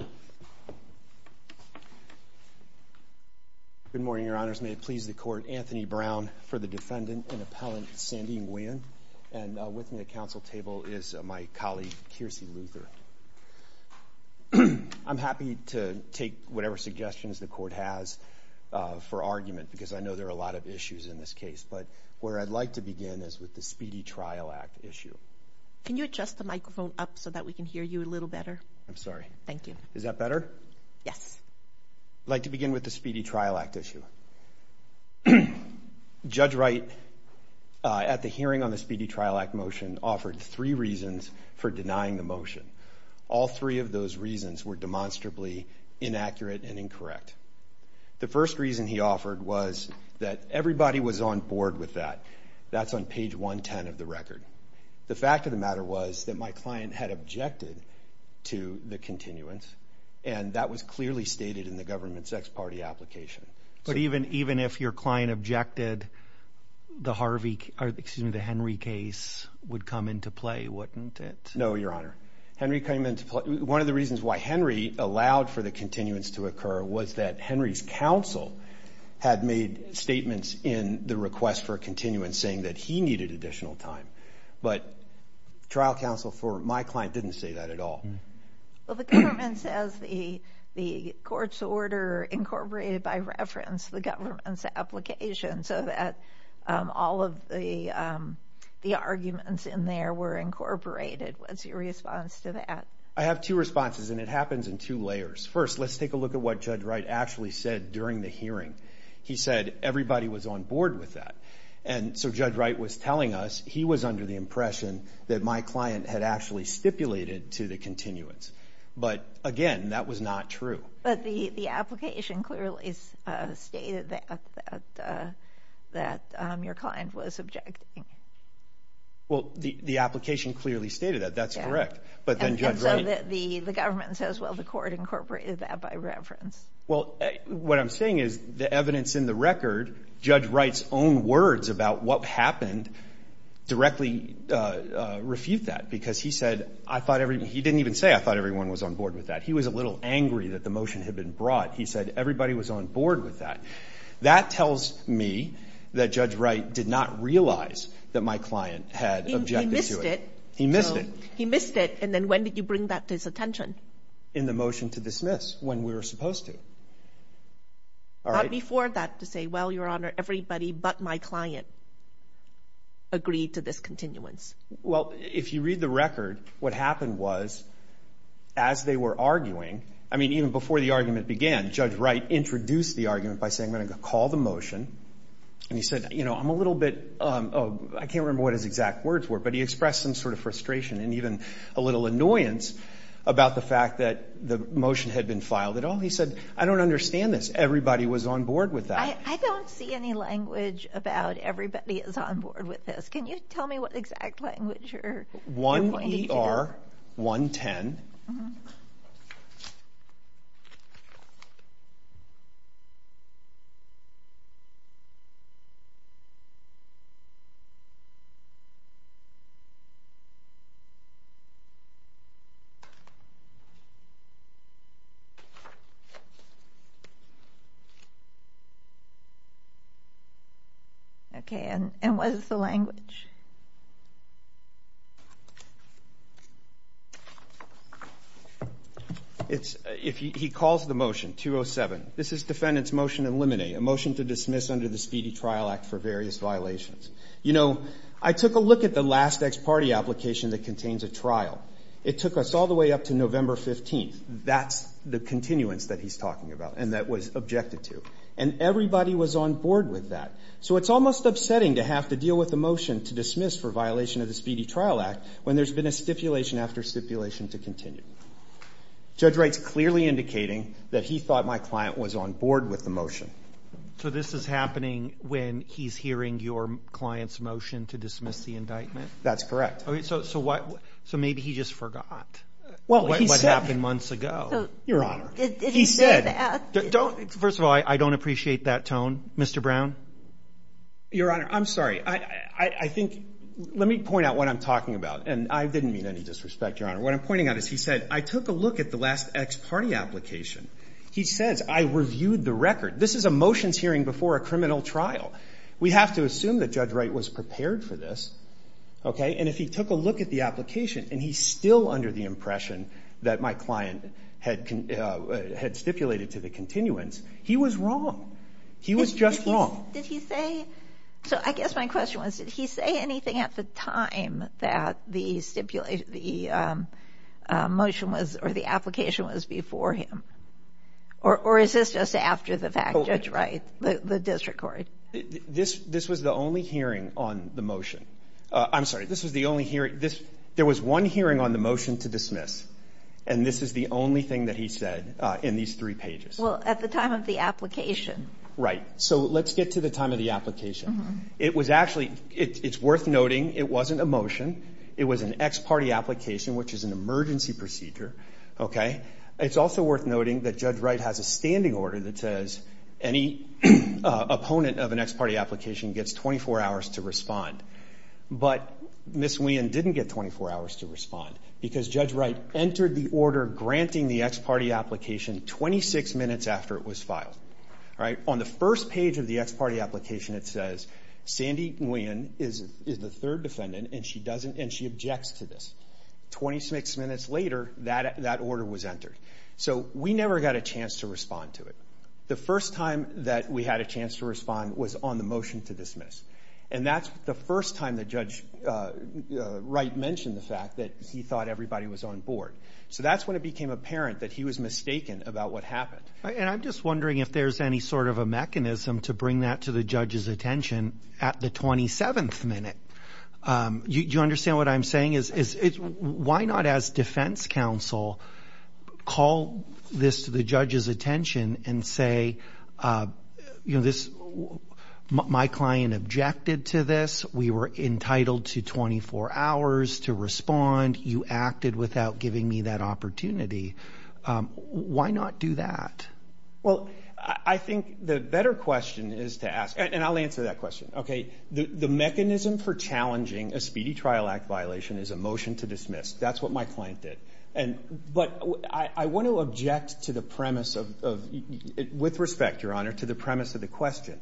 and with me at council table is my colleague Kiersey Luther. I'm happy to take whatever suggestions the court has for argument because I know there are a lot of issues in this case, but where I'd like to begin is with the Speedy Trial Act issue. Can you adjust the microphone up so that we can hear you a little better? I'm sorry. Thank you. Is that better? Yes. I'd like to begin with the Speedy Trial Act issue. Judge Wright at the hearing on the Speedy Trial Act motion offered three reasons for denying the motion. All three of those reasons were demonstrably inaccurate and incorrect. The first reason he offered was that everybody was on board with that. That's on page 110 of the matter was that my client had objected to the continuance and that was clearly stated in the government's ex-party application. But even if your client objected, the Henry case would come into play, wouldn't it? No, Your Honor. One of the reasons why Henry allowed for the continuance to occur was that Henry's counsel had made statements in the request for a continuance saying that he needed additional time. But trial counsel for my client didn't say that at all. Well, the government says the court's order incorporated by reference the government's application so that all of the arguments in there were incorporated. What's your response to that? I have two responses and it happens in two layers. First, let's take a look at what Judge Wright actually said during the hearing. He said everybody was on board with that. And so Judge Wright was telling us he was under the impression that my client had actually stipulated to the continuance. But again, that was not true. But the application clearly stated that your client was objecting. Well, the application clearly stated that. That's correct. But then Judge Wright... And so the government says, well, incorporated that by reference. Well, what I'm saying is the evidence in the record, Judge Wright's own words about what happened directly refute that because he said, I thought every... He didn't even say, I thought everyone was on board with that. He was a little angry that the motion had been brought. He said everybody was on board with that. That tells me that Judge Wright did not realize that my client had objected to it. He missed it. He missed it. And then when did you bring that to his attention? In the motion to dismiss when we were supposed to. Not before that to say, well, Your Honor, everybody but my client agreed to this continuance. Well, if you read the record, what happened was as they were arguing, I mean, even before the argument began, Judge Wright introduced the argument by saying, I'm going to call the motion. And he said, you know, I'm a little bit... I can't remember what his exact words were, but he expressed some frustration and even a little annoyance about the fact that the motion had been filed at all. He said, I don't understand this. Everybody was on board with that. I don't see any language about everybody is on board with this. Can you tell me what exact language you're pointing to? 1ER110. Okay. And what is the language? He calls the motion, 207. This is defendant's motion to eliminate, a motion to dismiss under the Speedy Trial Act for various violations. You know, I took a look at the last ex parte application that contains a trial. It took us all the way up to November 15th. That's the continuance that he's talking about and that was objected to. And everybody was on board with that. So it's almost upsetting to have to deal with the motion to dismiss for violation of the Speedy Trial Act when there's been a stipulation after stipulation to continue. Judge Wright's clearly indicating that he thought my client was on board with the motion. So this is happening when he's hearing your client's motion to dismiss the indictment? That's correct. Okay. So, so what, so maybe he just forgot what happened months ago. Your Honor, he said, don't, first of all, I don't appreciate that tone. Mr. Brown. Your Honor, I'm sorry. I think, let me point out what I'm talking about. And I didn't mean any disrespect, Your Honor. What I'm pointing out is he said, I took a look at the last ex party application. He says, I reviewed the record. This is a motions hearing before a criminal trial. We have to assume that Judge Wright was prepared for this. Okay. And if he took a look at the application and he's still under the impression that my client had, had stipulated to the continuance, he was wrong. He was just wrong. Did he say, so I guess my question was, did he before him or is this just after the fact, Judge Wright, the district court? This, this was the only hearing on the motion. I'm sorry. This was the only hearing this, there was one hearing on the motion to dismiss, and this is the only thing that he said in these three pages. Well, at the time of the application. Right. So let's get to the time of the application. It was actually, it's worth noting. It wasn't a motion. It was an ex party application, which is an emergency procedure. Okay. It's also worth noting that Judge Wright has a standing order that says any opponent of an ex party application gets 24 hours to respond. But Ms. Nguyen didn't get 24 hours to respond because Judge Wright entered the order granting the ex party application 26 minutes after it was filed. Right. On the first page of the ex party application, it says Sandy Nguyen is the third defendant and she doesn't and she objects to this 26 minutes later that that order was entered. So we never got a chance to respond to it. The first time that we had a chance to respond was on the motion to dismiss. And that's the first time that Judge Wright mentioned the fact that he thought everybody was on board. So that's when it became apparent that he was mistaken about what happened. And I'm just wondering if there's any sort of a mechanism to bring that to the judge's attention at the 27th minute. Do you understand what I'm saying is why not as defense counsel call this to the judge's attention and say, you know, this my client objected to this. We were entitled to 24 hours to respond. You acted without giving me that opportunity. Why not do that? Well, I think the better question is to ask. And I'll answer that question. Okay. The mechanism for challenging a speedy trial act violation is a motion to dismiss. That's what my client did. And but I want to object to the premise of with respect, Your Honor, to the premise of the question.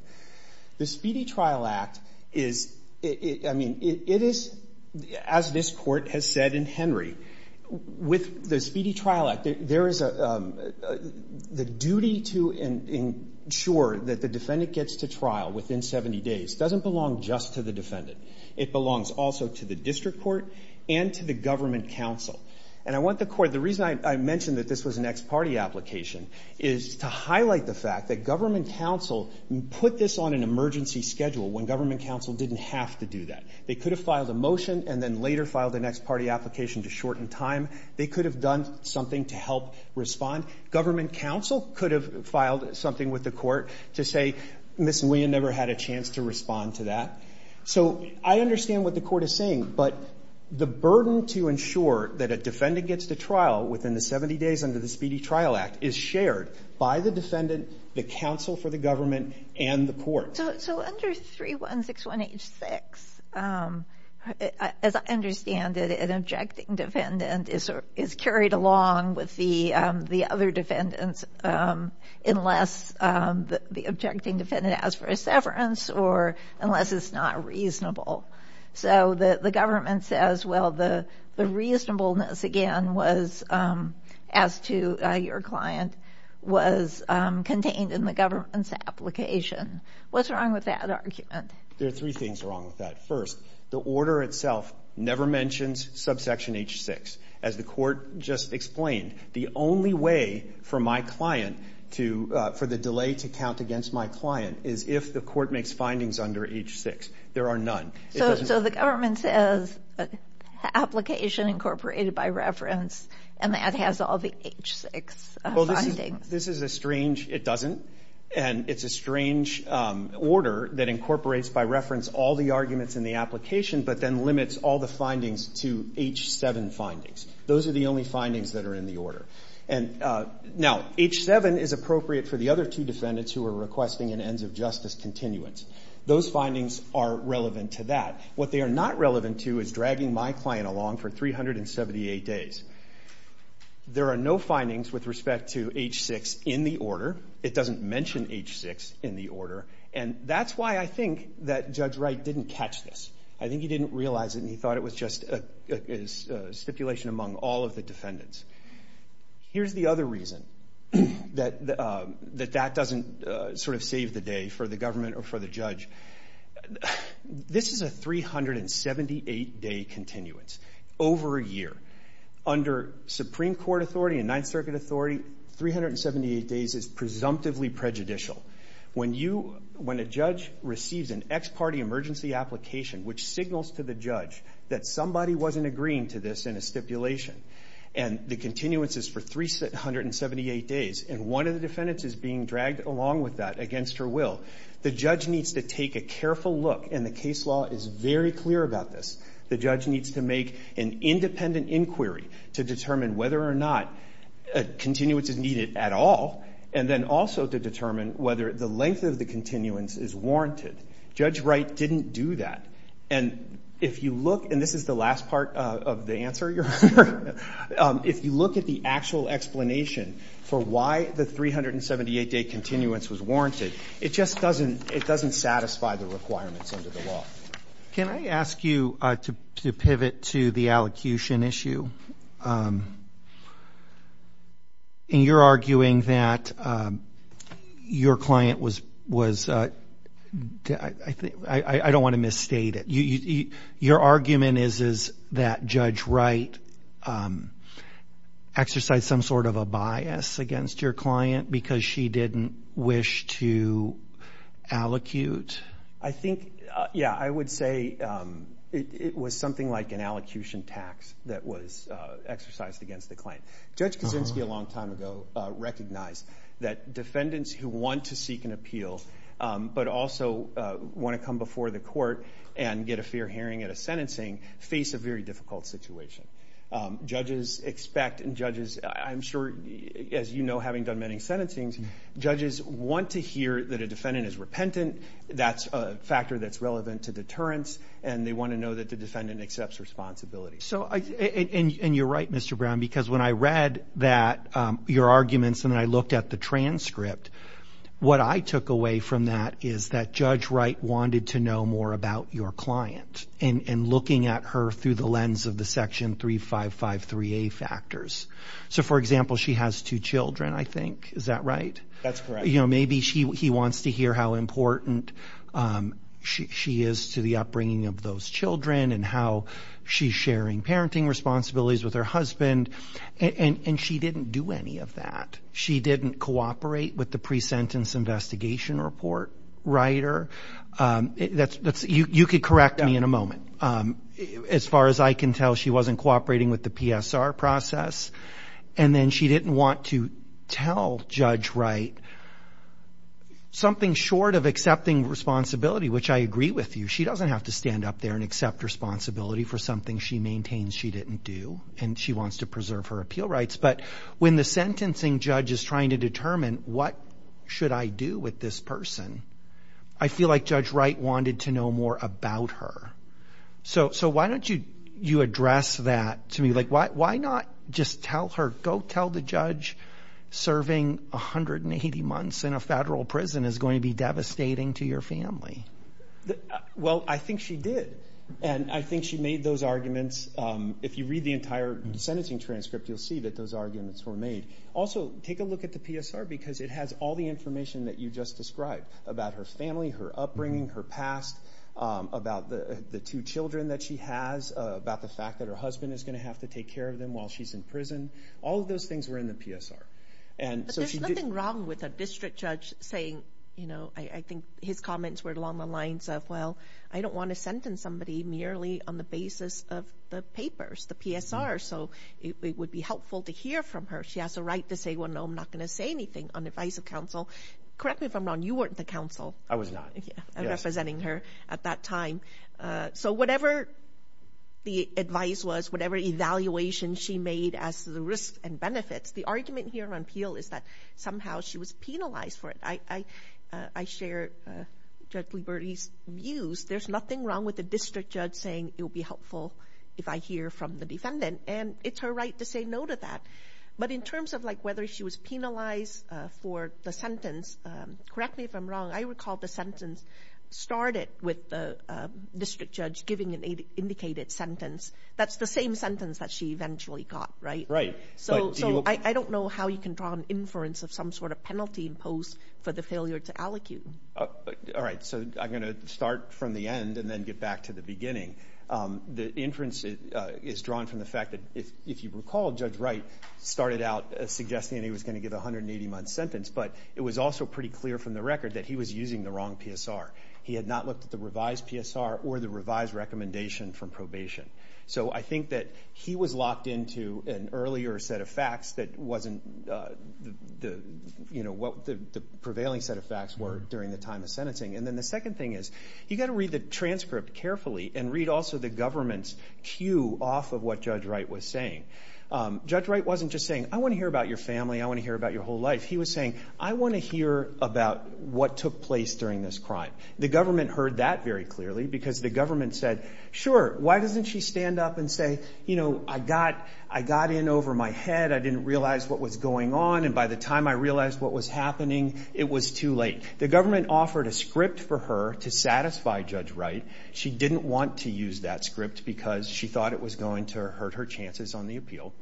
The Speedy Trial Act is I mean, it is as this court has said in Henry, with the Speedy Trial Act, there is a the duty to ensure that the defendant gets to trial within 70 days doesn't belong just to the defendant. It belongs also to the district court and to the government counsel. And I want the court. The reason I mentioned that this was an ex partee application is to highlight the fact that government counsel put this on an emergency schedule when government counsel didn't have to do that. They could have filed a motion and then later filed an ex partee application to shorten time. They could have done something to help respond. Government counsel could have filed something with the court to say, Miss, we never had a chance to respond to that. So I understand what the court is saying. But the burden to ensure that a defendant gets to trial within the 70 days under the Speedy Trial Act is shared by the defendant, the counsel for the government and the court. So under 316186, as I understand it, an objecting defendant is is carried along with the the other defendants unless the objecting defendant asks for a severance or unless it's not reasonable. So the government says, well, the reasonableness again was as to your client was contained in the government's application. What's wrong with that argument? There are three things wrong with that. First, the order itself never mentions subsection H-6. As the court just explained, the only way for my client to for the delay to count against my client is if the court makes findings under H-6. There are none. So the government says application incorporated by reference and that has all the H-6. Well, this is a strange, it doesn't. And it's a strange order that incorporates by reference all the arguments in the application, but then limits all the findings to H-7 findings. Those are the only findings that are in the order. And now H-7 is appropriate for the other two defendants who are requesting an ends of justice continuance. Those findings are relevant to that. What they are not relevant to is dragging my client along for 378 days. There are no findings with respect to H-6 in the order. It doesn't mention H-6 in the order. And that's why I think that Judge Wright didn't catch this. I think he didn't realize it and he thought it was just a stipulation among all of the defendants. Here's the other reason that that doesn't sort of save the day for the government or for the judge. This is a 378-day continuance over a year. Under Supreme Court authority and Ninth Circuit authority, 378 days is presumptively prejudicial. When you, when a judge receives an ex-party emergency application which signals to the judge that somebody wasn't agreeing to this in a stipulation and the continuance is for 378 days and one of the defendants is being dragged along with that against her will, the judge needs to take a careful look and the case law is very clear about this. The judge needs to make an independent inquiry to determine whether or not a continuance is needed at all and then also to determine whether the length of the continuance is warranted. Judge Wright didn't do that. And if you look, and this is the last part of the answer, if you look at the actual explanation for why the 378-day continuance was warranted, it just doesn't, it doesn't satisfy the requirements under the law. Can I ask you to pivot to the allocution issue? And you're arguing that your client was, was, I don't want to misstate it. Your argument is, is that Judge Wright exercised some sort of a bias against your client because she didn't wish to allocute? I think, yeah, I would say it was something like an allocution tax that was exercised against the client. Judge Kaczynski a long time ago recognized that defendants who want to seek an appeal but also want to come before the court and get a fair hearing at a sentencing face a very difficult situation. Judges expect, and judges, I'm sure, as you know, having done many sentencings, judges want to hear that a defendant is repentant, that's a factor that's relevant to deterrence, and they want to know that the defendant accepts responsibility. So, and you're right, Mr. Brown, because when I read that, your arguments, and I looked at the transcript, what I took away from that is that Judge Wright wanted to know more about your client and looking at her through the lens of the Section 3553A factors. So, for example, she has two children, I think, is that right? That's correct. You know, maybe she, he wants to hear how important she is to the upbringing of those children and how she's sharing parenting responsibilities with her husband, and she didn't do any of that. She didn't cooperate with the pre-sentence investigation report, Wrighter. That's, you could correct me in a moment. As far as I can tell, she wasn't cooperating with the PSR process, and then she didn't want to tell Judge Wright something short of accepting responsibility, which I agree with you. She doesn't have to stand up there and accept responsibility for something she maintains she didn't do, and she wants to preserve her appeal rights, but when the sentencing judge is trying to determine what should I do with this person, I feel like Judge Wright wanted to know more about her. So, why don't you address that to me? Like, why not just tell her, go tell the judge serving 180 months in a federal prison is going to be devastating to your family? Well, I think she did, and I think she made those arguments. If you read the entire sentencing transcript, you'll see that those arguments were made. Also, take a look at the PSR, because it has all the information that you just described about her family, her upbringing, her past, about the two children that she has, about the fact that her husband is going to have to take care of them while she's in prison. All of those things were in the PSR. But there's nothing wrong with a district judge saying, you know, I think his comments were along the lines of, well, I don't want to hear from her. She has a right to say, well, no, I'm not going to say anything on the advice of counsel. Correct me if I'm wrong, you weren't the counsel. I was not. I'm representing her at that time. So, whatever the advice was, whatever evaluation she made as to the risks and benefits, the argument here on appeal is that somehow she was penalized for it. I share Judge Liberty's views. There's nothing wrong with a district judge saying it will be helpful if I hear from the defendant. And it's her right to say no to that. But in terms of, like, whether she was penalized for the sentence, correct me if I'm wrong, I recall the sentence started with the district judge giving an indicated sentence. That's the same sentence that she eventually got, right? Right. So, I don't know how you can draw an inference of some sort of penalty imposed for the failure to allocate. All right. So, I'm going to start from the end and then get back to the beginning. The inference is drawn from the fact that, if you recall, Judge Wright started out suggesting he was going to give a 180-month sentence, but it was also pretty clear from the record that he was using the wrong PSR. He had not looked at the revised PSR or the revised recommendation from probation. So, I think that he was locked into an earlier set of facts that wasn't the, you know, what the prevailing set of facts were during the time of sentencing. And then the second thing is, you've got to read the transcript carefully and read also the government's cue off of what Judge Wright was saying. Judge Wright wasn't just saying, I want to hear about your family, I want to hear about your whole life. He was saying, I want to hear about what took place during this crime. The government heard that very clearly because the government said, sure, why doesn't she stand up and say, you know, I got in over my head, I didn't realize what was going on, and by the time I realized what was happening, it was too late. The government offered a script for her to satisfy Judge Wright. She didn't want to use that script because she thought it was going to hurt her chances on the appeal.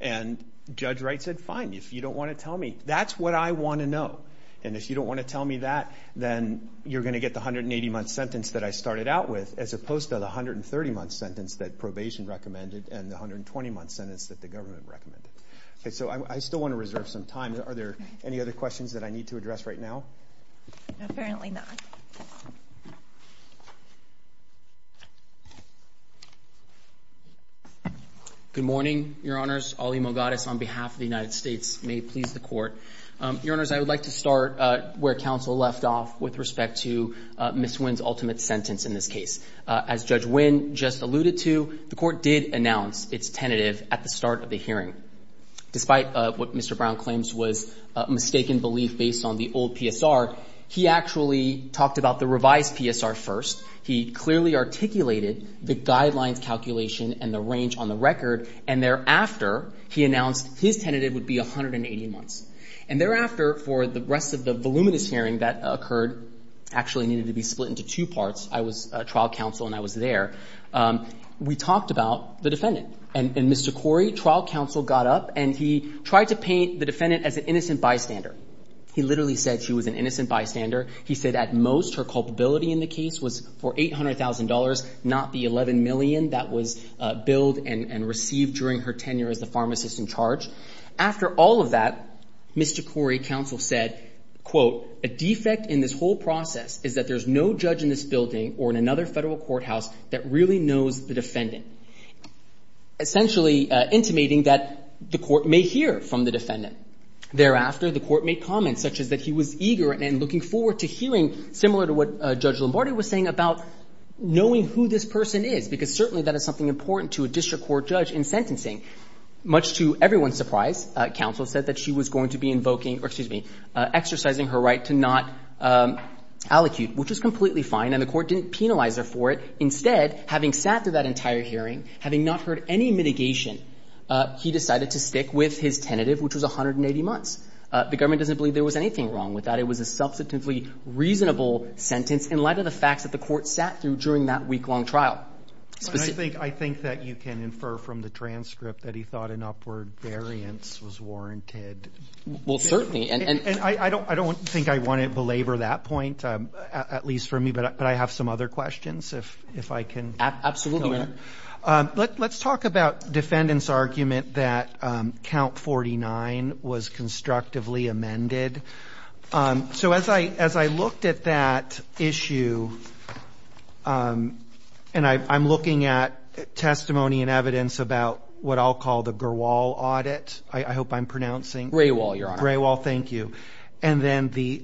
And Judge Wright said, fine, if you don't want to tell me. That's what I want to know. And if you don't want to tell me, I'm supposed to have the 130-month sentence that probation recommended and the 120-month sentence that the government recommended. Okay, so I still want to reserve some time. Are there any other questions that I need to address right now? Apparently not. Good morning, Your Honors. Ali Mogadish on behalf of the United States. May it please the Court. Your Honors, I would like to start where counsel left off with respect to Ms. Wynn's ultimate sentence in this case. As Judge Wynn just alluded to, the Court did announce its tentative at the start of the hearing. Despite what Mr. Brown claims was mistaken belief based on the old PSR, he actually talked about the revised PSR first. He clearly articulated the guidelines calculation and the range on the record, and thereafter, he announced his tentative would be 180 months. And thereafter, for the rest of the luminous hearing that occurred, actually needed to be split into two parts. I was trial counsel and I was there. We talked about the defendant. And Mr. Corey, trial counsel, got up and he tried to paint the defendant as an innocent bystander. He literally said she was an innocent bystander. He said at most her culpability in the case was for $800,000, not the $11 million that was billed and received during her tenure as the pharmacist in charge. After all of that, Mr. Corey, counsel, said, quote, a defect in this whole process is that there's no judge in this building or in another federal courthouse that really knows the defendant. Essentially intimating that the Court may hear from the defendant. Thereafter, the Court made comments such as that he was eager and looking forward to hearing similar to what Judge Lombardi was saying about knowing who this person is, because certainly that is something important to a judicial court judge in sentencing. Much to everyone's surprise, counsel said that she was going to be invoking or, excuse me, exercising her right to not allocute, which was completely fine, and the Court didn't penalize her for it. Instead, having sat through that entire hearing, having not heard any mitigation, he decided to stick with his tentative, which was 180 months. The government doesn't believe there was anything wrong with that. It was a substantively reasonable sentence in light of the facts that the Court sat through during that week-long trial. I think that you can infer from the transcript that he thought an upward variance was warranted. Well, certainly. And I don't think I want to belabor that point, at least for me, but I have some other questions, if I can. Absolutely. Let's talk about defendant's argument that count 49 was constructively amended. So as I looked at that issue, and I'm looking at testimony and evidence about what I'll call the Grewal audit, I hope I'm pronouncing. Grewal, Your Honor. Grewal, thank you. And then the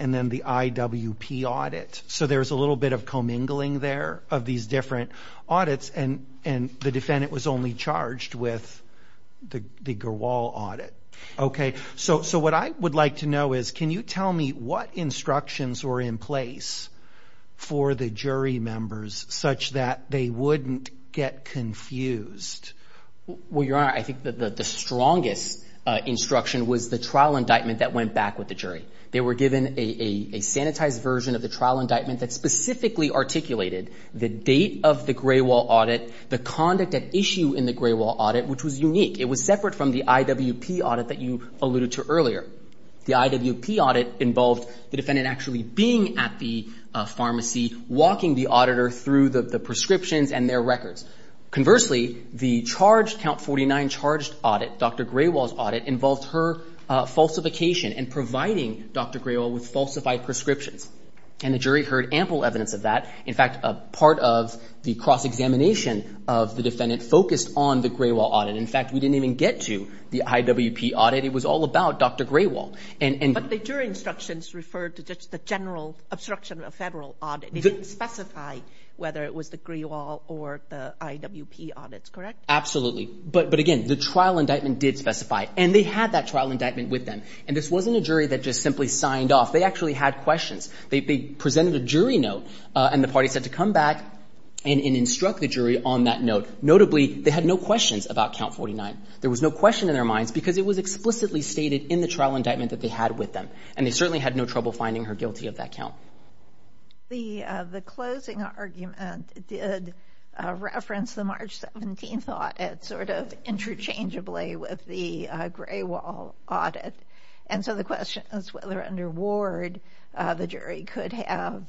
IWP audit. So there's a little bit of commingling there of these different audits, and the defendant was only charged with the Grewal audit. Okay. So what I would like to know is, can you tell me what instructions were in place for the jury members such that they wouldn't get confused? Well, Your Honor, I think that the strongest instruction was the trial indictment that went back with the jury. They were given a sanitized version of the trial indictment that specifically articulated the date of the Grewal audit, the conduct at issue in the Grewal audit, which was unique. It was separate from the IWP audit that you alluded to earlier. The IWP audit involved the defendant actually being at the pharmacy, walking the auditor through the prescriptions and their records. Conversely, the charge, count 49 charged audit, Dr. Grewal's audit, involved her falsification and providing Dr. Grewal with falsified prescriptions. And the jury heard ample evidence of that. In fact, a part of the cross-examination of the defendant focused on the Grewal audit. In fact, we didn't even get to the IWP audit. It was all about Dr. Grewal. But the jury instructions referred to just the general obstruction of federal audit. They didn't specify whether it was the Grewal or the IWP audits, correct? Absolutely. But again, the trial indictment did specify. And they had that trial indictment with them. And this wasn't a jury that just simply signed off. They actually had questions. They presented a jury note and the party said to come back and instruct the jury on that note. Notably, they had no questions about count 49. There was no question in their minds because it was explicitly stated in the trial indictment that they had with them. And they certainly had no trouble finding her guilty of that count. The closing argument did reference the March 17th audit sort of interchangeably with the Grewal audit. And so the question is whether under Ward the jury could have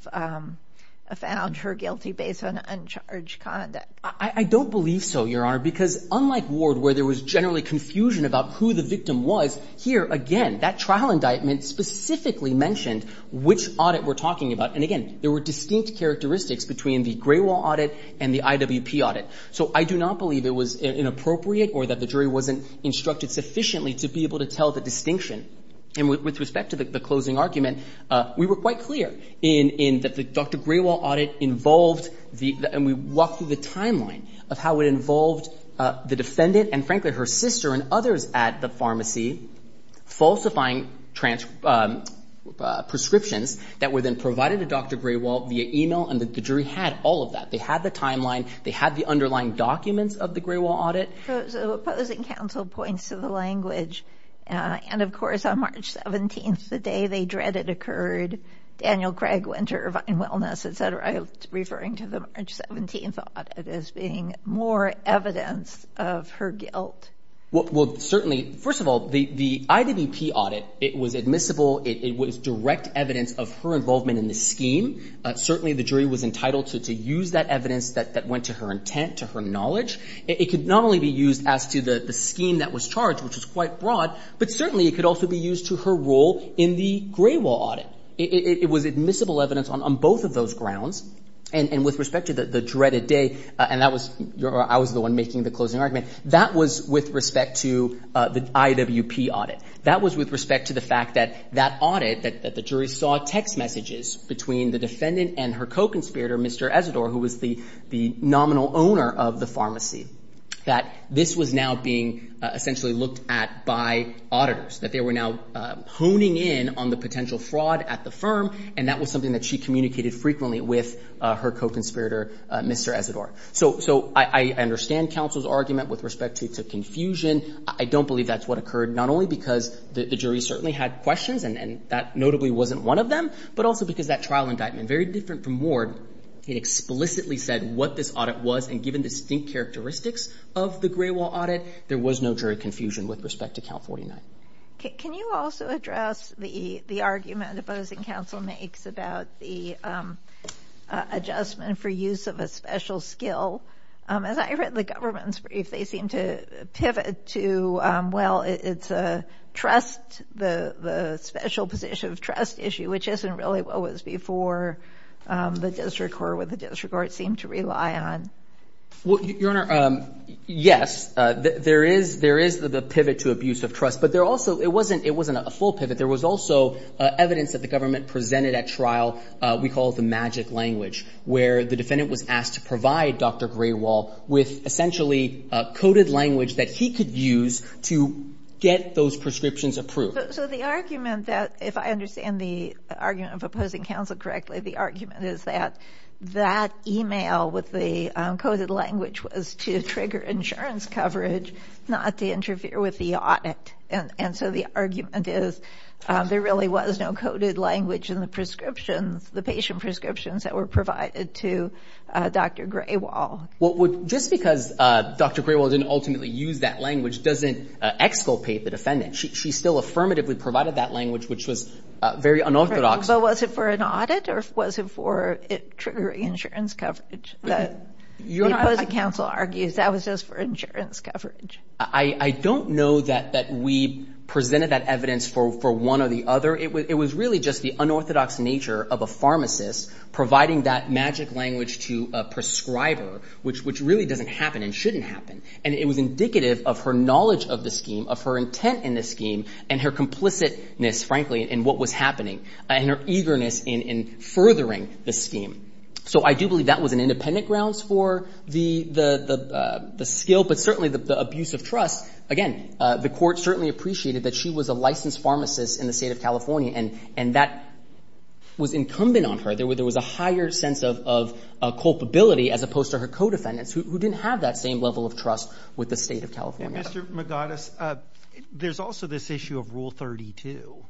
found her guilty based on uncharged conduct. I don't believe so, Your Honor, because unlike Ward where there was generally confusion about who the victim was, here, again, that trial indictment specifically mentioned which audit we're talking about. And again, there were distinct characteristics between the Grewal audit and the IWP audit. So I do not believe it was inappropriate or that the jury wasn't instructed sufficiently to be able to tell the distinction. And with respect to the closing argument, we were quite clear in that the Dr. Grewal audit involved the timeline of how it involved the defendant and, frankly, her sister and others at the pharmacy falsifying prescriptions that were then provided to Dr. Grewal via e-mail. And the jury had all of that. They had the timeline. They had the underlying documents of the Grewal audit. So opposing counsel points to the language. And, of course, on March 17th, the day they dreaded occurred, Daniel Craig Winter, referring to the March 17th audit as being more evidence of her guilt. Well, certainly, first of all, the IWP audit, it was admissible. It was direct evidence of her involvement in the scheme. Certainly, the jury was entitled to use that evidence that went to her intent, to her knowledge. It could not only be used as to the scheme that was charged, which is quite broad, but certainly it could also be used to her role in the Grewal audit. It was admissible evidence on both of those grounds. And with respect to the dreaded day, and I was the one making the closing argument, that was with respect to the IWP audit. That was with respect to the fact that that audit, that the jury saw text messages between the defendant and her co-conspirator, Mr. Ezzador, who was the nominal owner of the pharmacy, that this was now being essentially looked at by auditors, that they were now honing in on the potential fraud at the firm, and that was something that she communicated frequently with her co-conspirator, Mr. Ezzador. So I understand counsel's argument with respect to confusion. I don't believe that's what occurred, not only because the jury certainly had questions, and that notably wasn't one of them, but also because that trial indictment, very different from Ward, it explicitly said what this audit was, and given distinct characteristics of the Grewal audit, there was no jury confusion with respect to Count 49. Can you also address the argument opposing counsel makes about the adjustment for use of a special skill? As I read the government's brief, they seem to pivot to, well, it's a trust, the special position of trust issue, which isn't really what was before the district court, what the district court seemed to rely on. Well, Your Honor, yes, there is the pivot to abuse of trust. But there also, it wasn't a full pivot. There was also evidence that the government presented at trial we call the magic language, where the defendant was asked to provide Dr. Grewal with essentially coded language that he could use to get those prescriptions approved. So the argument that, if I understand the argument of opposing counsel correctly, the argument is that that email with the coded language was to trigger insurance coverage, not to interfere with the audit. And so the argument is there really was no coded language in the prescriptions, the patient prescriptions that were provided to Dr. Grewal. Well, just because Dr. Grewal didn't ultimately use that language doesn't exculpate the defendant. She still affirmatively provided that language, which was very unorthodox. But was it for an audit or was it for triggering insurance coverage? The opposing counsel argues that was just for insurance coverage. I don't know that we presented that evidence for one or the other. It was really just the unorthodox nature of a pharmacist providing that magic language to a prescriber, which really doesn't happen and shouldn't happen. And it was indicative of her knowledge of the scheme, of her intent in the scheme, and her complicitness, frankly, in what was happening, and her eagerness in furthering the scheme. So I do believe that was an independent grounds for the skill, but certainly the abuse of trust. Again, the Court certainly appreciated that she was a licensed pharmacist in the State of California, and that was incumbent on her. There was a higher sense of culpability as opposed to her co-defendants, who didn't have that same level of trust with the State of California. Mr. Magadis, there's also this issue of Rule 32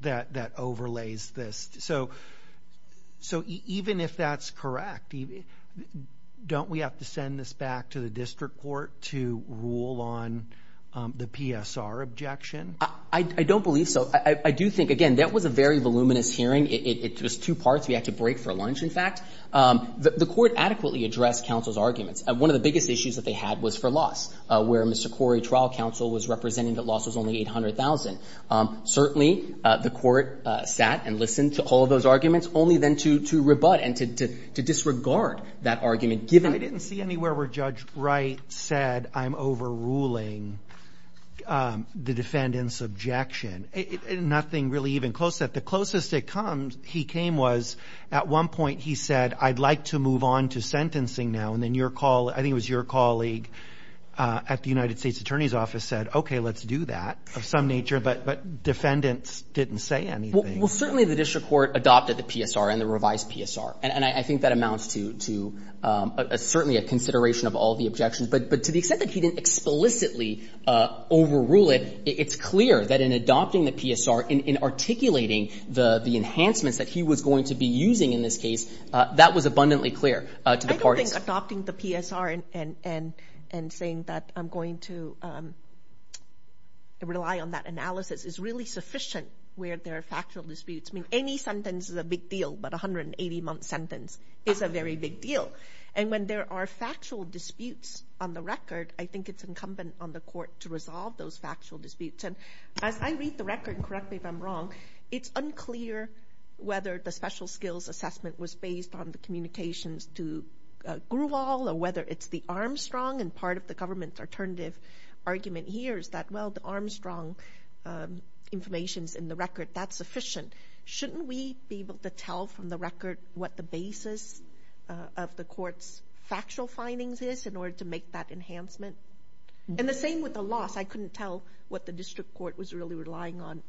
that overlays this. So even if that's correct, don't we have to send this back to the district court to rule on the PSR objection? I don't believe so. I do think, again, that was a very voluminous hearing. It was two parts. We had to break for lunch, in fact. The court adequately addressed counsel's arguments. One of the biggest issues that they had was for loss, where Mr. Corey, trial counsel, was representing that loss was only $800,000. Certainly, the court sat and listened to all of those arguments, only then to rebut and to disregard that argument, given the— I didn't see anywhere where Judge Wright said, I'm overruling the defendant's objection. Nothing really even close to that. The closest it came was at one point he said, I'd like to move on to sentencing now. And then your colleague, I think it was your colleague at the United States Attorney's Office, said, okay, let's do that of some nature. But defendants didn't say anything. Well, certainly the district court adopted the PSR and the revised PSR. And I think that amounts to certainly a consideration of all the objections. But to the extent that he didn't explicitly overrule it, it's clear that in adopting the PSR, in articulating the enhancements that he was going to be using in this case, that was abundantly clear to the parties. I don't think adopting the PSR and saying that I'm going to rely on that analysis is really sufficient where there are factual disputes. I mean, any sentence is a big deal, but a 180-month sentence is a very big deal. And when there are factual disputes on the record, I think it's incumbent on the court to resolve those factual disputes. And as I read the record, and correct me if I'm wrong, it's unclear whether the special skills assessment was based on the communications to Gruvall or whether it's the Armstrong. And part of the government's alternative argument here is that, well, the Armstrong information is in the record. That's sufficient. Shouldn't we be able to tell from the record what the basis of the court's factual findings is in order to make that enhancement? And the same with the loss. I couldn't tell what the district court was really relying on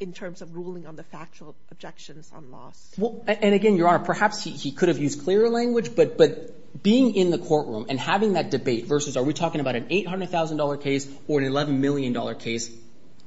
in terms of ruling on the factual objections on loss. And again, Your Honor, perhaps he could have used clearer language, but being in the courtroom and having that debate versus, are we talking about an $800,000 case or an $11 million case,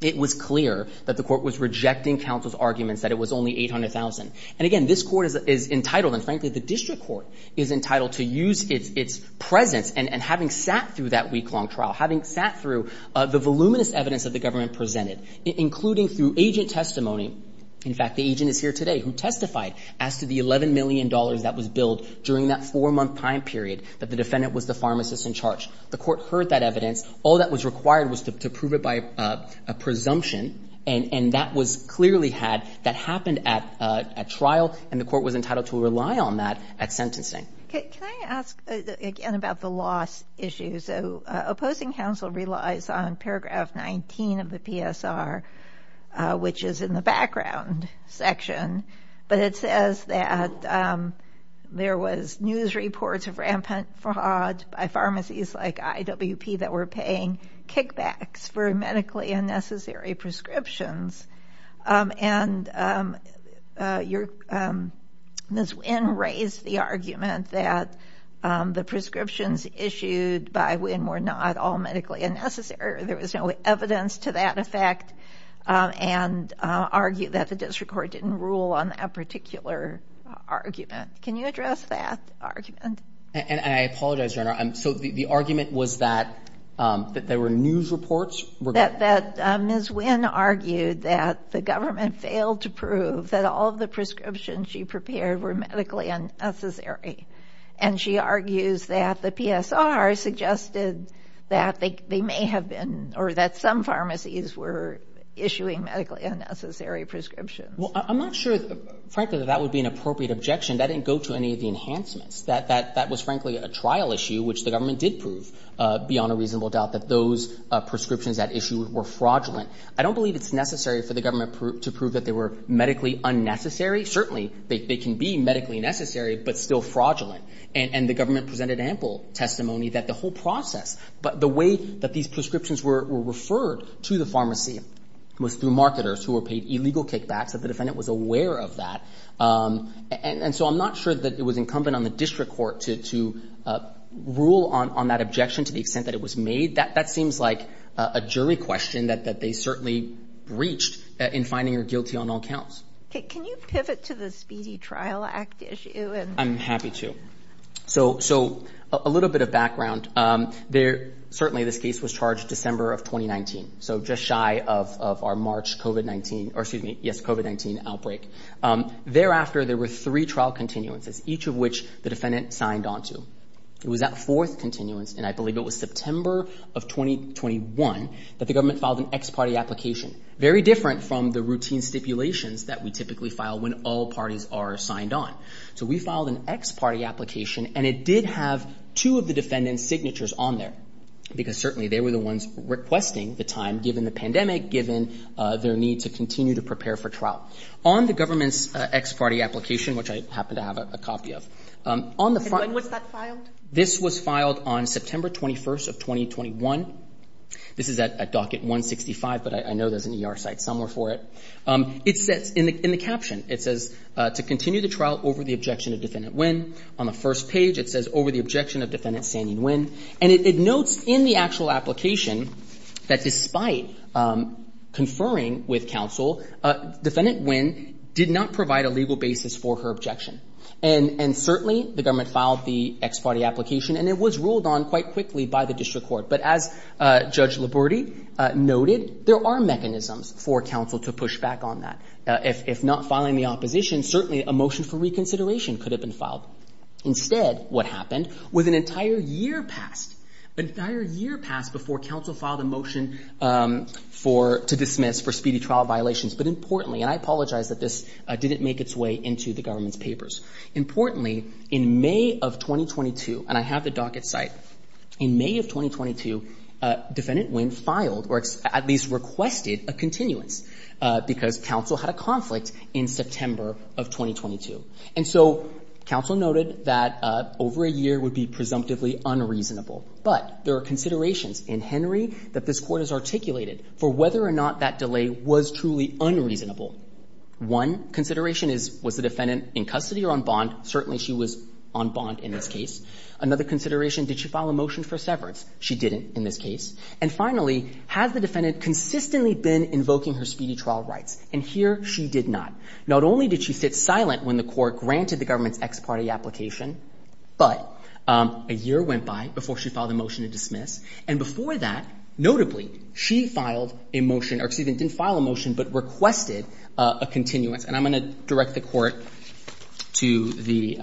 it was clear that the court was rejecting counsel's arguments that it was only $800,000. And again, this court is entitled, and frankly, the district court is entitled to use its presence and having sat through that week-long trial, having sat through the voluminous evidence that the government presented, including through agent testimony. In fact, the agent is here today who testified as to the $11 million that was billed during that four-month time period that the defendant was the pharmacist in charge. The court heard that evidence. All that was required was to prove it by a presumption, and that was clearly had that happened at trial, and the court was entitled to rely on that at sentencing. Can I ask again about the loss issue? So opposing counsel relies on paragraph 19 of the PSR, which is in the background section, but it says that there was news reports of rampant fraud by pharmacies like IWP that were paying kickbacks for medically unnecessary prescriptions. And Ms. Winn raised the argument that the prescriptions issued by Winn were not all medically unnecessary. There was no evidence to that effect, and argued that the district court didn't rule on that particular argument. Can you address that argument? And I apologize, Your Honor. So the argument was that there were news reports? That Ms. Winn argued that the government failed to prove that all of the prescriptions she prepared were medically unnecessary, and she argues that the PSR suggested that they may have been or that some pharmacies were issuing medically unnecessary prescriptions. Well, I'm not sure, frankly, that that would be an appropriate objection. That didn't go to any of the enhancements. That was, frankly, a trial issue, which the government did prove beyond a reasonable doubt that those prescriptions at issue were fraudulent. I don't believe it's necessary for the government to prove that they were medically unnecessary. Certainly, they can be medically necessary, but still fraudulent. And the government presented ample testimony that the whole process, the way that these prescriptions were referred to the pharmacy was through marketers who were paid illegal kickbacks, that the defendant was aware of that. And so I'm not sure that it was incumbent on the district court to rule on that objection to the extent that it was made. That seems like a jury question that they certainly breached in finding her guilty on all counts. Can you pivot to the Speedy Trial Act issue? I'm happy to. So a little bit of background. Certainly, this case was charged December of 2019, so just shy of our March COVID-19 outbreak. Thereafter, there were three trial continuances, each of which the defendant signed on to. It was that fourth continuance, and I believe it was September of 2021, that the government filed an ex parte application, very different from the routine stipulations that we typically file when all parties are signed on. So we filed an ex parte application, and it did have two of the defendant's signatures on there, because certainly they were the ones requesting the time, given the pandemic, given their need to continue to prepare for trial. On the government's ex parte application, which I happen to have a copy of. When was that filed? This was filed on September 21st of 2021. This is at docket 165, but I know there's an ER site somewhere for it. It says in the caption, it says, to continue the trial over the objection of Defendant Nguyen. On the first page, it says, over the objection of Defendant Sandy Nguyen. And it notes in the actual application that despite conferring with counsel, Defendant Nguyen did not provide a legal basis for her objection. And certainly the government filed the ex parte application, and it was ruled on quite quickly by the district court. But as Judge Laborde noted, there are mechanisms for counsel to push back on that. If not filing the opposition, certainly a motion for reconsideration could have been filed. Instead, what happened was an entire year passed, an entire year passed before counsel filed a motion to dismiss for speedy trial violations. But importantly, and I apologize that this didn't make its way into the government's papers. Importantly, in May of 2022, and I have the docket site, in May of 2022, Defendant Nguyen filed or at least requested a continuance because counsel had a conflict in September of 2022. And so counsel noted that over a year would be presumptively unreasonable. But there are considerations in Henry that this court has articulated for whether or not that delay was truly unreasonable. One consideration is, was the defendant in custody or on bond? Certainly she was on bond in this case. Another consideration, did she file a motion for severance? She didn't in this case. And finally, has the defendant consistently been invoking her speedy trial rights? And here she did not. Not only did she sit silent when the court granted the government's ex parte application, but a year went by before she filed a motion to dismiss. And before that, notably, she filed a motion, or excuse me, didn't file a motion, but requested a continuance. And I'm going to direct the court to the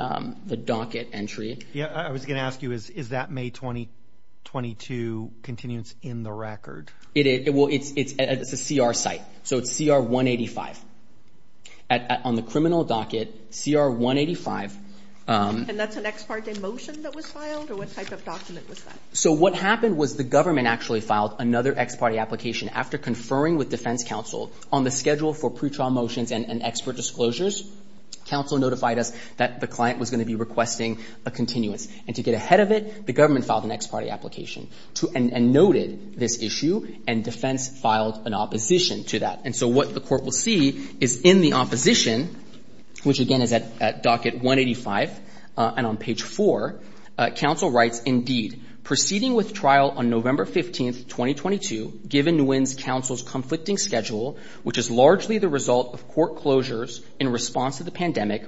docket entry. Yeah, I was going to ask you, is that May 2022 continuance in the record? Well, it's a CR site. So it's CR 185. On the criminal docket, CR 185. And that's an ex parte motion that was filed? Or what type of document was that? So what happened was the government actually filed another ex parte application after conferring with defense counsel on the schedule for pretrial motions and expert disclosures. Counsel notified us that the client was going to be requesting a continuance. And to get ahead of it, the government filed an ex parte application and noted this issue, and defense filed an opposition to that. And so what the court will see is in the opposition, which again is at docket 185 and on page 4, counsel writes, indeed, proceeding with trial on November 15, 2022, given Nguyen's counsel's conflicting schedule, which is largely the result of court closures in response to the pandemic,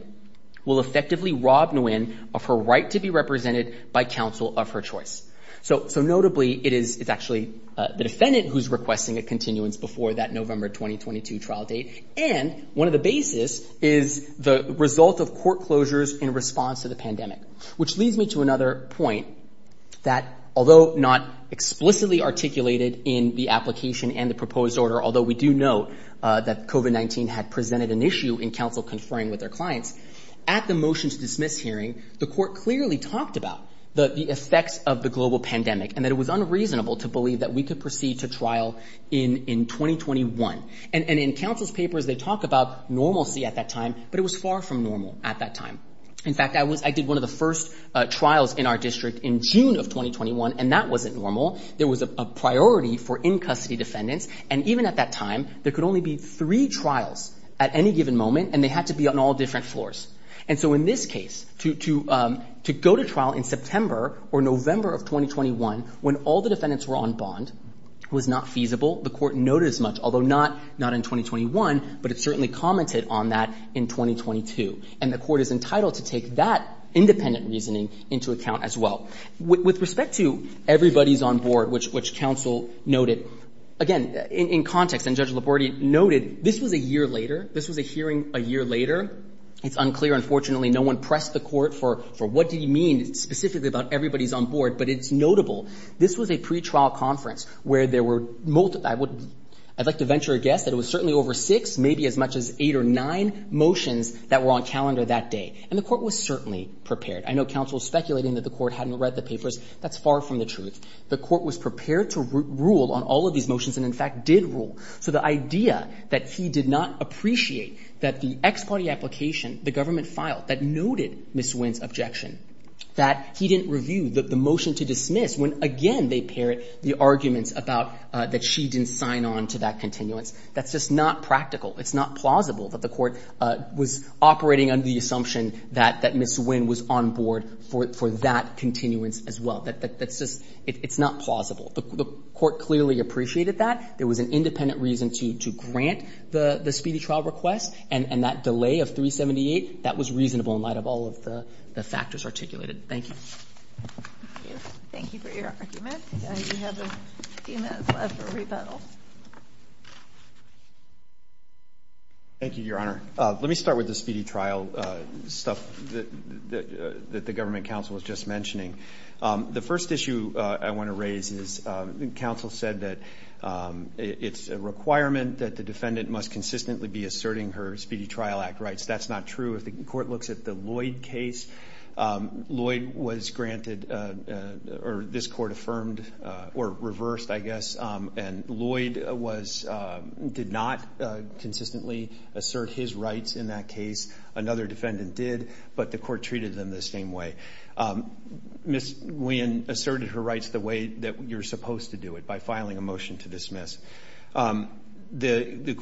will effectively rob Nguyen of her right to be represented by counsel of her choice. So notably, it is actually the defendant who's requesting a continuance before that November 2022 trial date. And one of the basis is the result of court closures in response to the pandemic, which leads me to another point that, although not explicitly articulated in the application and the proposed order, although we do know that COVID-19 had presented an issue in counsel conferring with their clients, at the motion to dismiss hearing, the court clearly talked about the effects of the global pandemic and that it was unreasonable to believe that we could proceed to trial in 2021. And in counsel's papers, they talk about normalcy at that time, but it was far from normal at that time. In fact, I did one of the first trials in our district in June of 2021, and that wasn't normal. There was a priority for in-custody defendants. And even at that time, there could only be three trials at any given moment, and they had to be on all different floors. And so in this case, to go to trial in September or November of 2021, when all the defendants were on bond, was not feasible. The court noted as much, although not in 2021, but it certainly commented on that in 2022. And the court is entitled to take that independent reasoning into account as well. With respect to everybody's on board, which counsel noted, again, in context, and Judge Labordi noted, this was a year later. This was a hearing a year later. It's unclear, unfortunately. No one pressed the court for what do you mean specifically about everybody's on board, but it's notable. This was a pretrial conference where there were multiple... I'd like to venture a guess that it was certainly over six, maybe as much as eight or nine motions that were on calendar that day. And the court was certainly prepared. I know counsel was speculating that the court hadn't read the papers. That's far from the truth. The court was prepared to rule on all of these motions and, in fact, did rule. So the idea that he did not appreciate that the ex-party application the government filed that noted Ms. Wynn's objection, that he didn't review the motion to dismiss when, again, they parrot the arguments about that she didn't sign on to that continuance, that's just not practical. It's not plausible that the court was operating under the assumption that Ms. Wynn was on board for that continuance as well. That's just, it's not plausible. The court clearly appreciated that. There was an independent reason to grant the speedy trial request, and that delay of 378, that was reasonable in light of all of the factors articulated. Thank you. Thank you for your argument. We have a few minutes left for rebuttal. Thank you, Your Honor. Let me start with the speedy trial stuff that the government counsel was just mentioning. The first issue I want to raise is, counsel said that it's a requirement that the defendant must consistently be asserting her Speedy Trial Act rights. That's not true. If the court looks at the Lloyd case, Lloyd was granted, or this court affirmed, or reversed, I guess, and Lloyd did not consistently assert his rights in that case. Another defendant did, but the court treated them the same way. Ms. Wynn asserted her rights the way that you're supposed to do it, by filing a motion to dismiss. The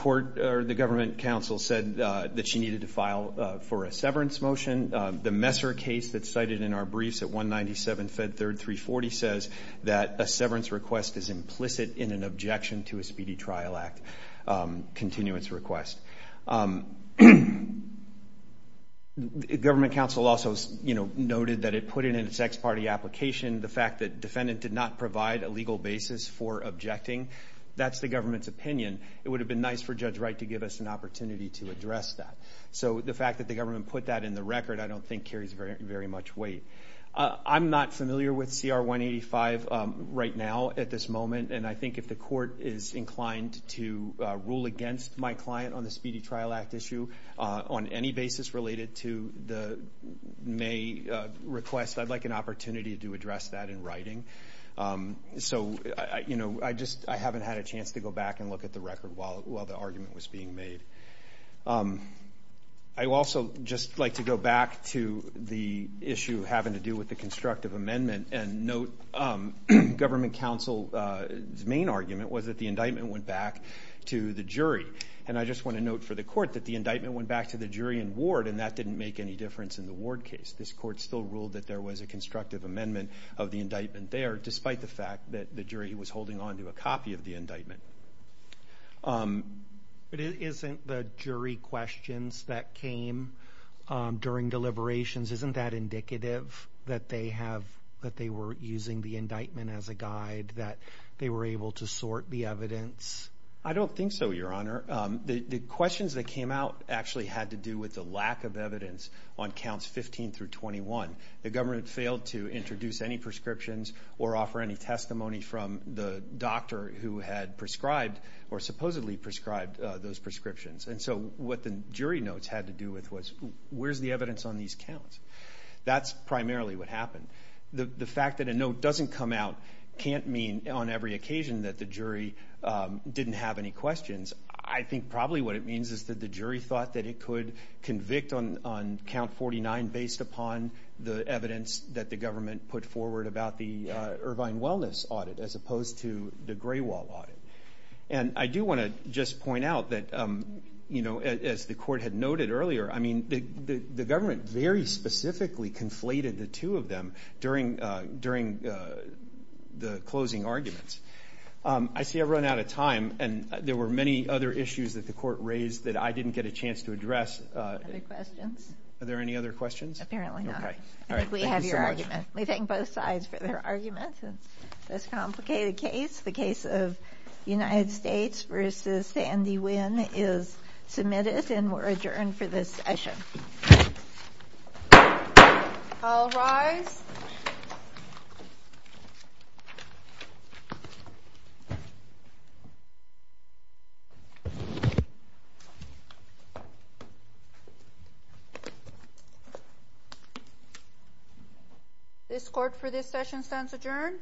government counsel said that she needed to file for a severance motion. The Messer case that's cited in our briefs at 197 Fed Third 340 says that a severance request is implicit in an objection to a Speedy Trial Act continuance request. Government counsel also noted that it put in in its ex parte application the fact that defendant did not provide a legal basis for objecting. That's the government's opinion. It would have been nice for Judge Wright to give us an opportunity to address that. The fact that the government put that in the record I don't think carries very much weight. I'm not familiar with CR 185 right now at this moment. I think if the court is inclined to rule against my client on the Speedy Trial Act issue, on any basis related to the May request, I'd like an opportunity to address that in writing. I haven't had a chance to go back and look at the record while the argument was being made. I'd also just like to go back to the issue having to do with the constructive amendment and note government counsel's main argument was that the indictment went back to the jury. And I just want to note for the court that the indictment went back to the jury and ward and that didn't make any difference in the ward case. This court still ruled that there was a constructive amendment of the indictment there despite the fact that the jury was holding on to a copy of the indictment. But isn't the jury questions that came during deliberations, isn't that indicative that they were using the indictment as a guide, that they were able to sort the evidence? I don't think so, Your Honor. The questions that came out actually had to do with the lack of evidence on counts 15 through 21. The government failed to introduce any prescriptions or offer any testimony from the doctor who had prescribed or supposedly prescribed those prescriptions. And so what the jury notes had to do with was where's the evidence on these counts? That's primarily what happened. The fact that a note doesn't come out can't mean on every occasion that the jury didn't have any questions. I think probably what it means is that the jury thought that it could convict on count 49 based upon the evidence that the government put forward about the Irvine Wellness Audit as opposed to the Gray Wall Audit. And I do want to just point out that, as the court had noted earlier, the government very specifically conflated the two of them during the closing arguments. I see I've run out of time, and there were many other issues that the court raised that I didn't get a chance to address. Are there any other questions? Apparently not. I think we have your argument. Let me thank both sides for their arguments in this complicated case. The case of United States v. Sandy Wynn is submitted and we're adjourned for this session. All rise. This court for this session stands adjourned.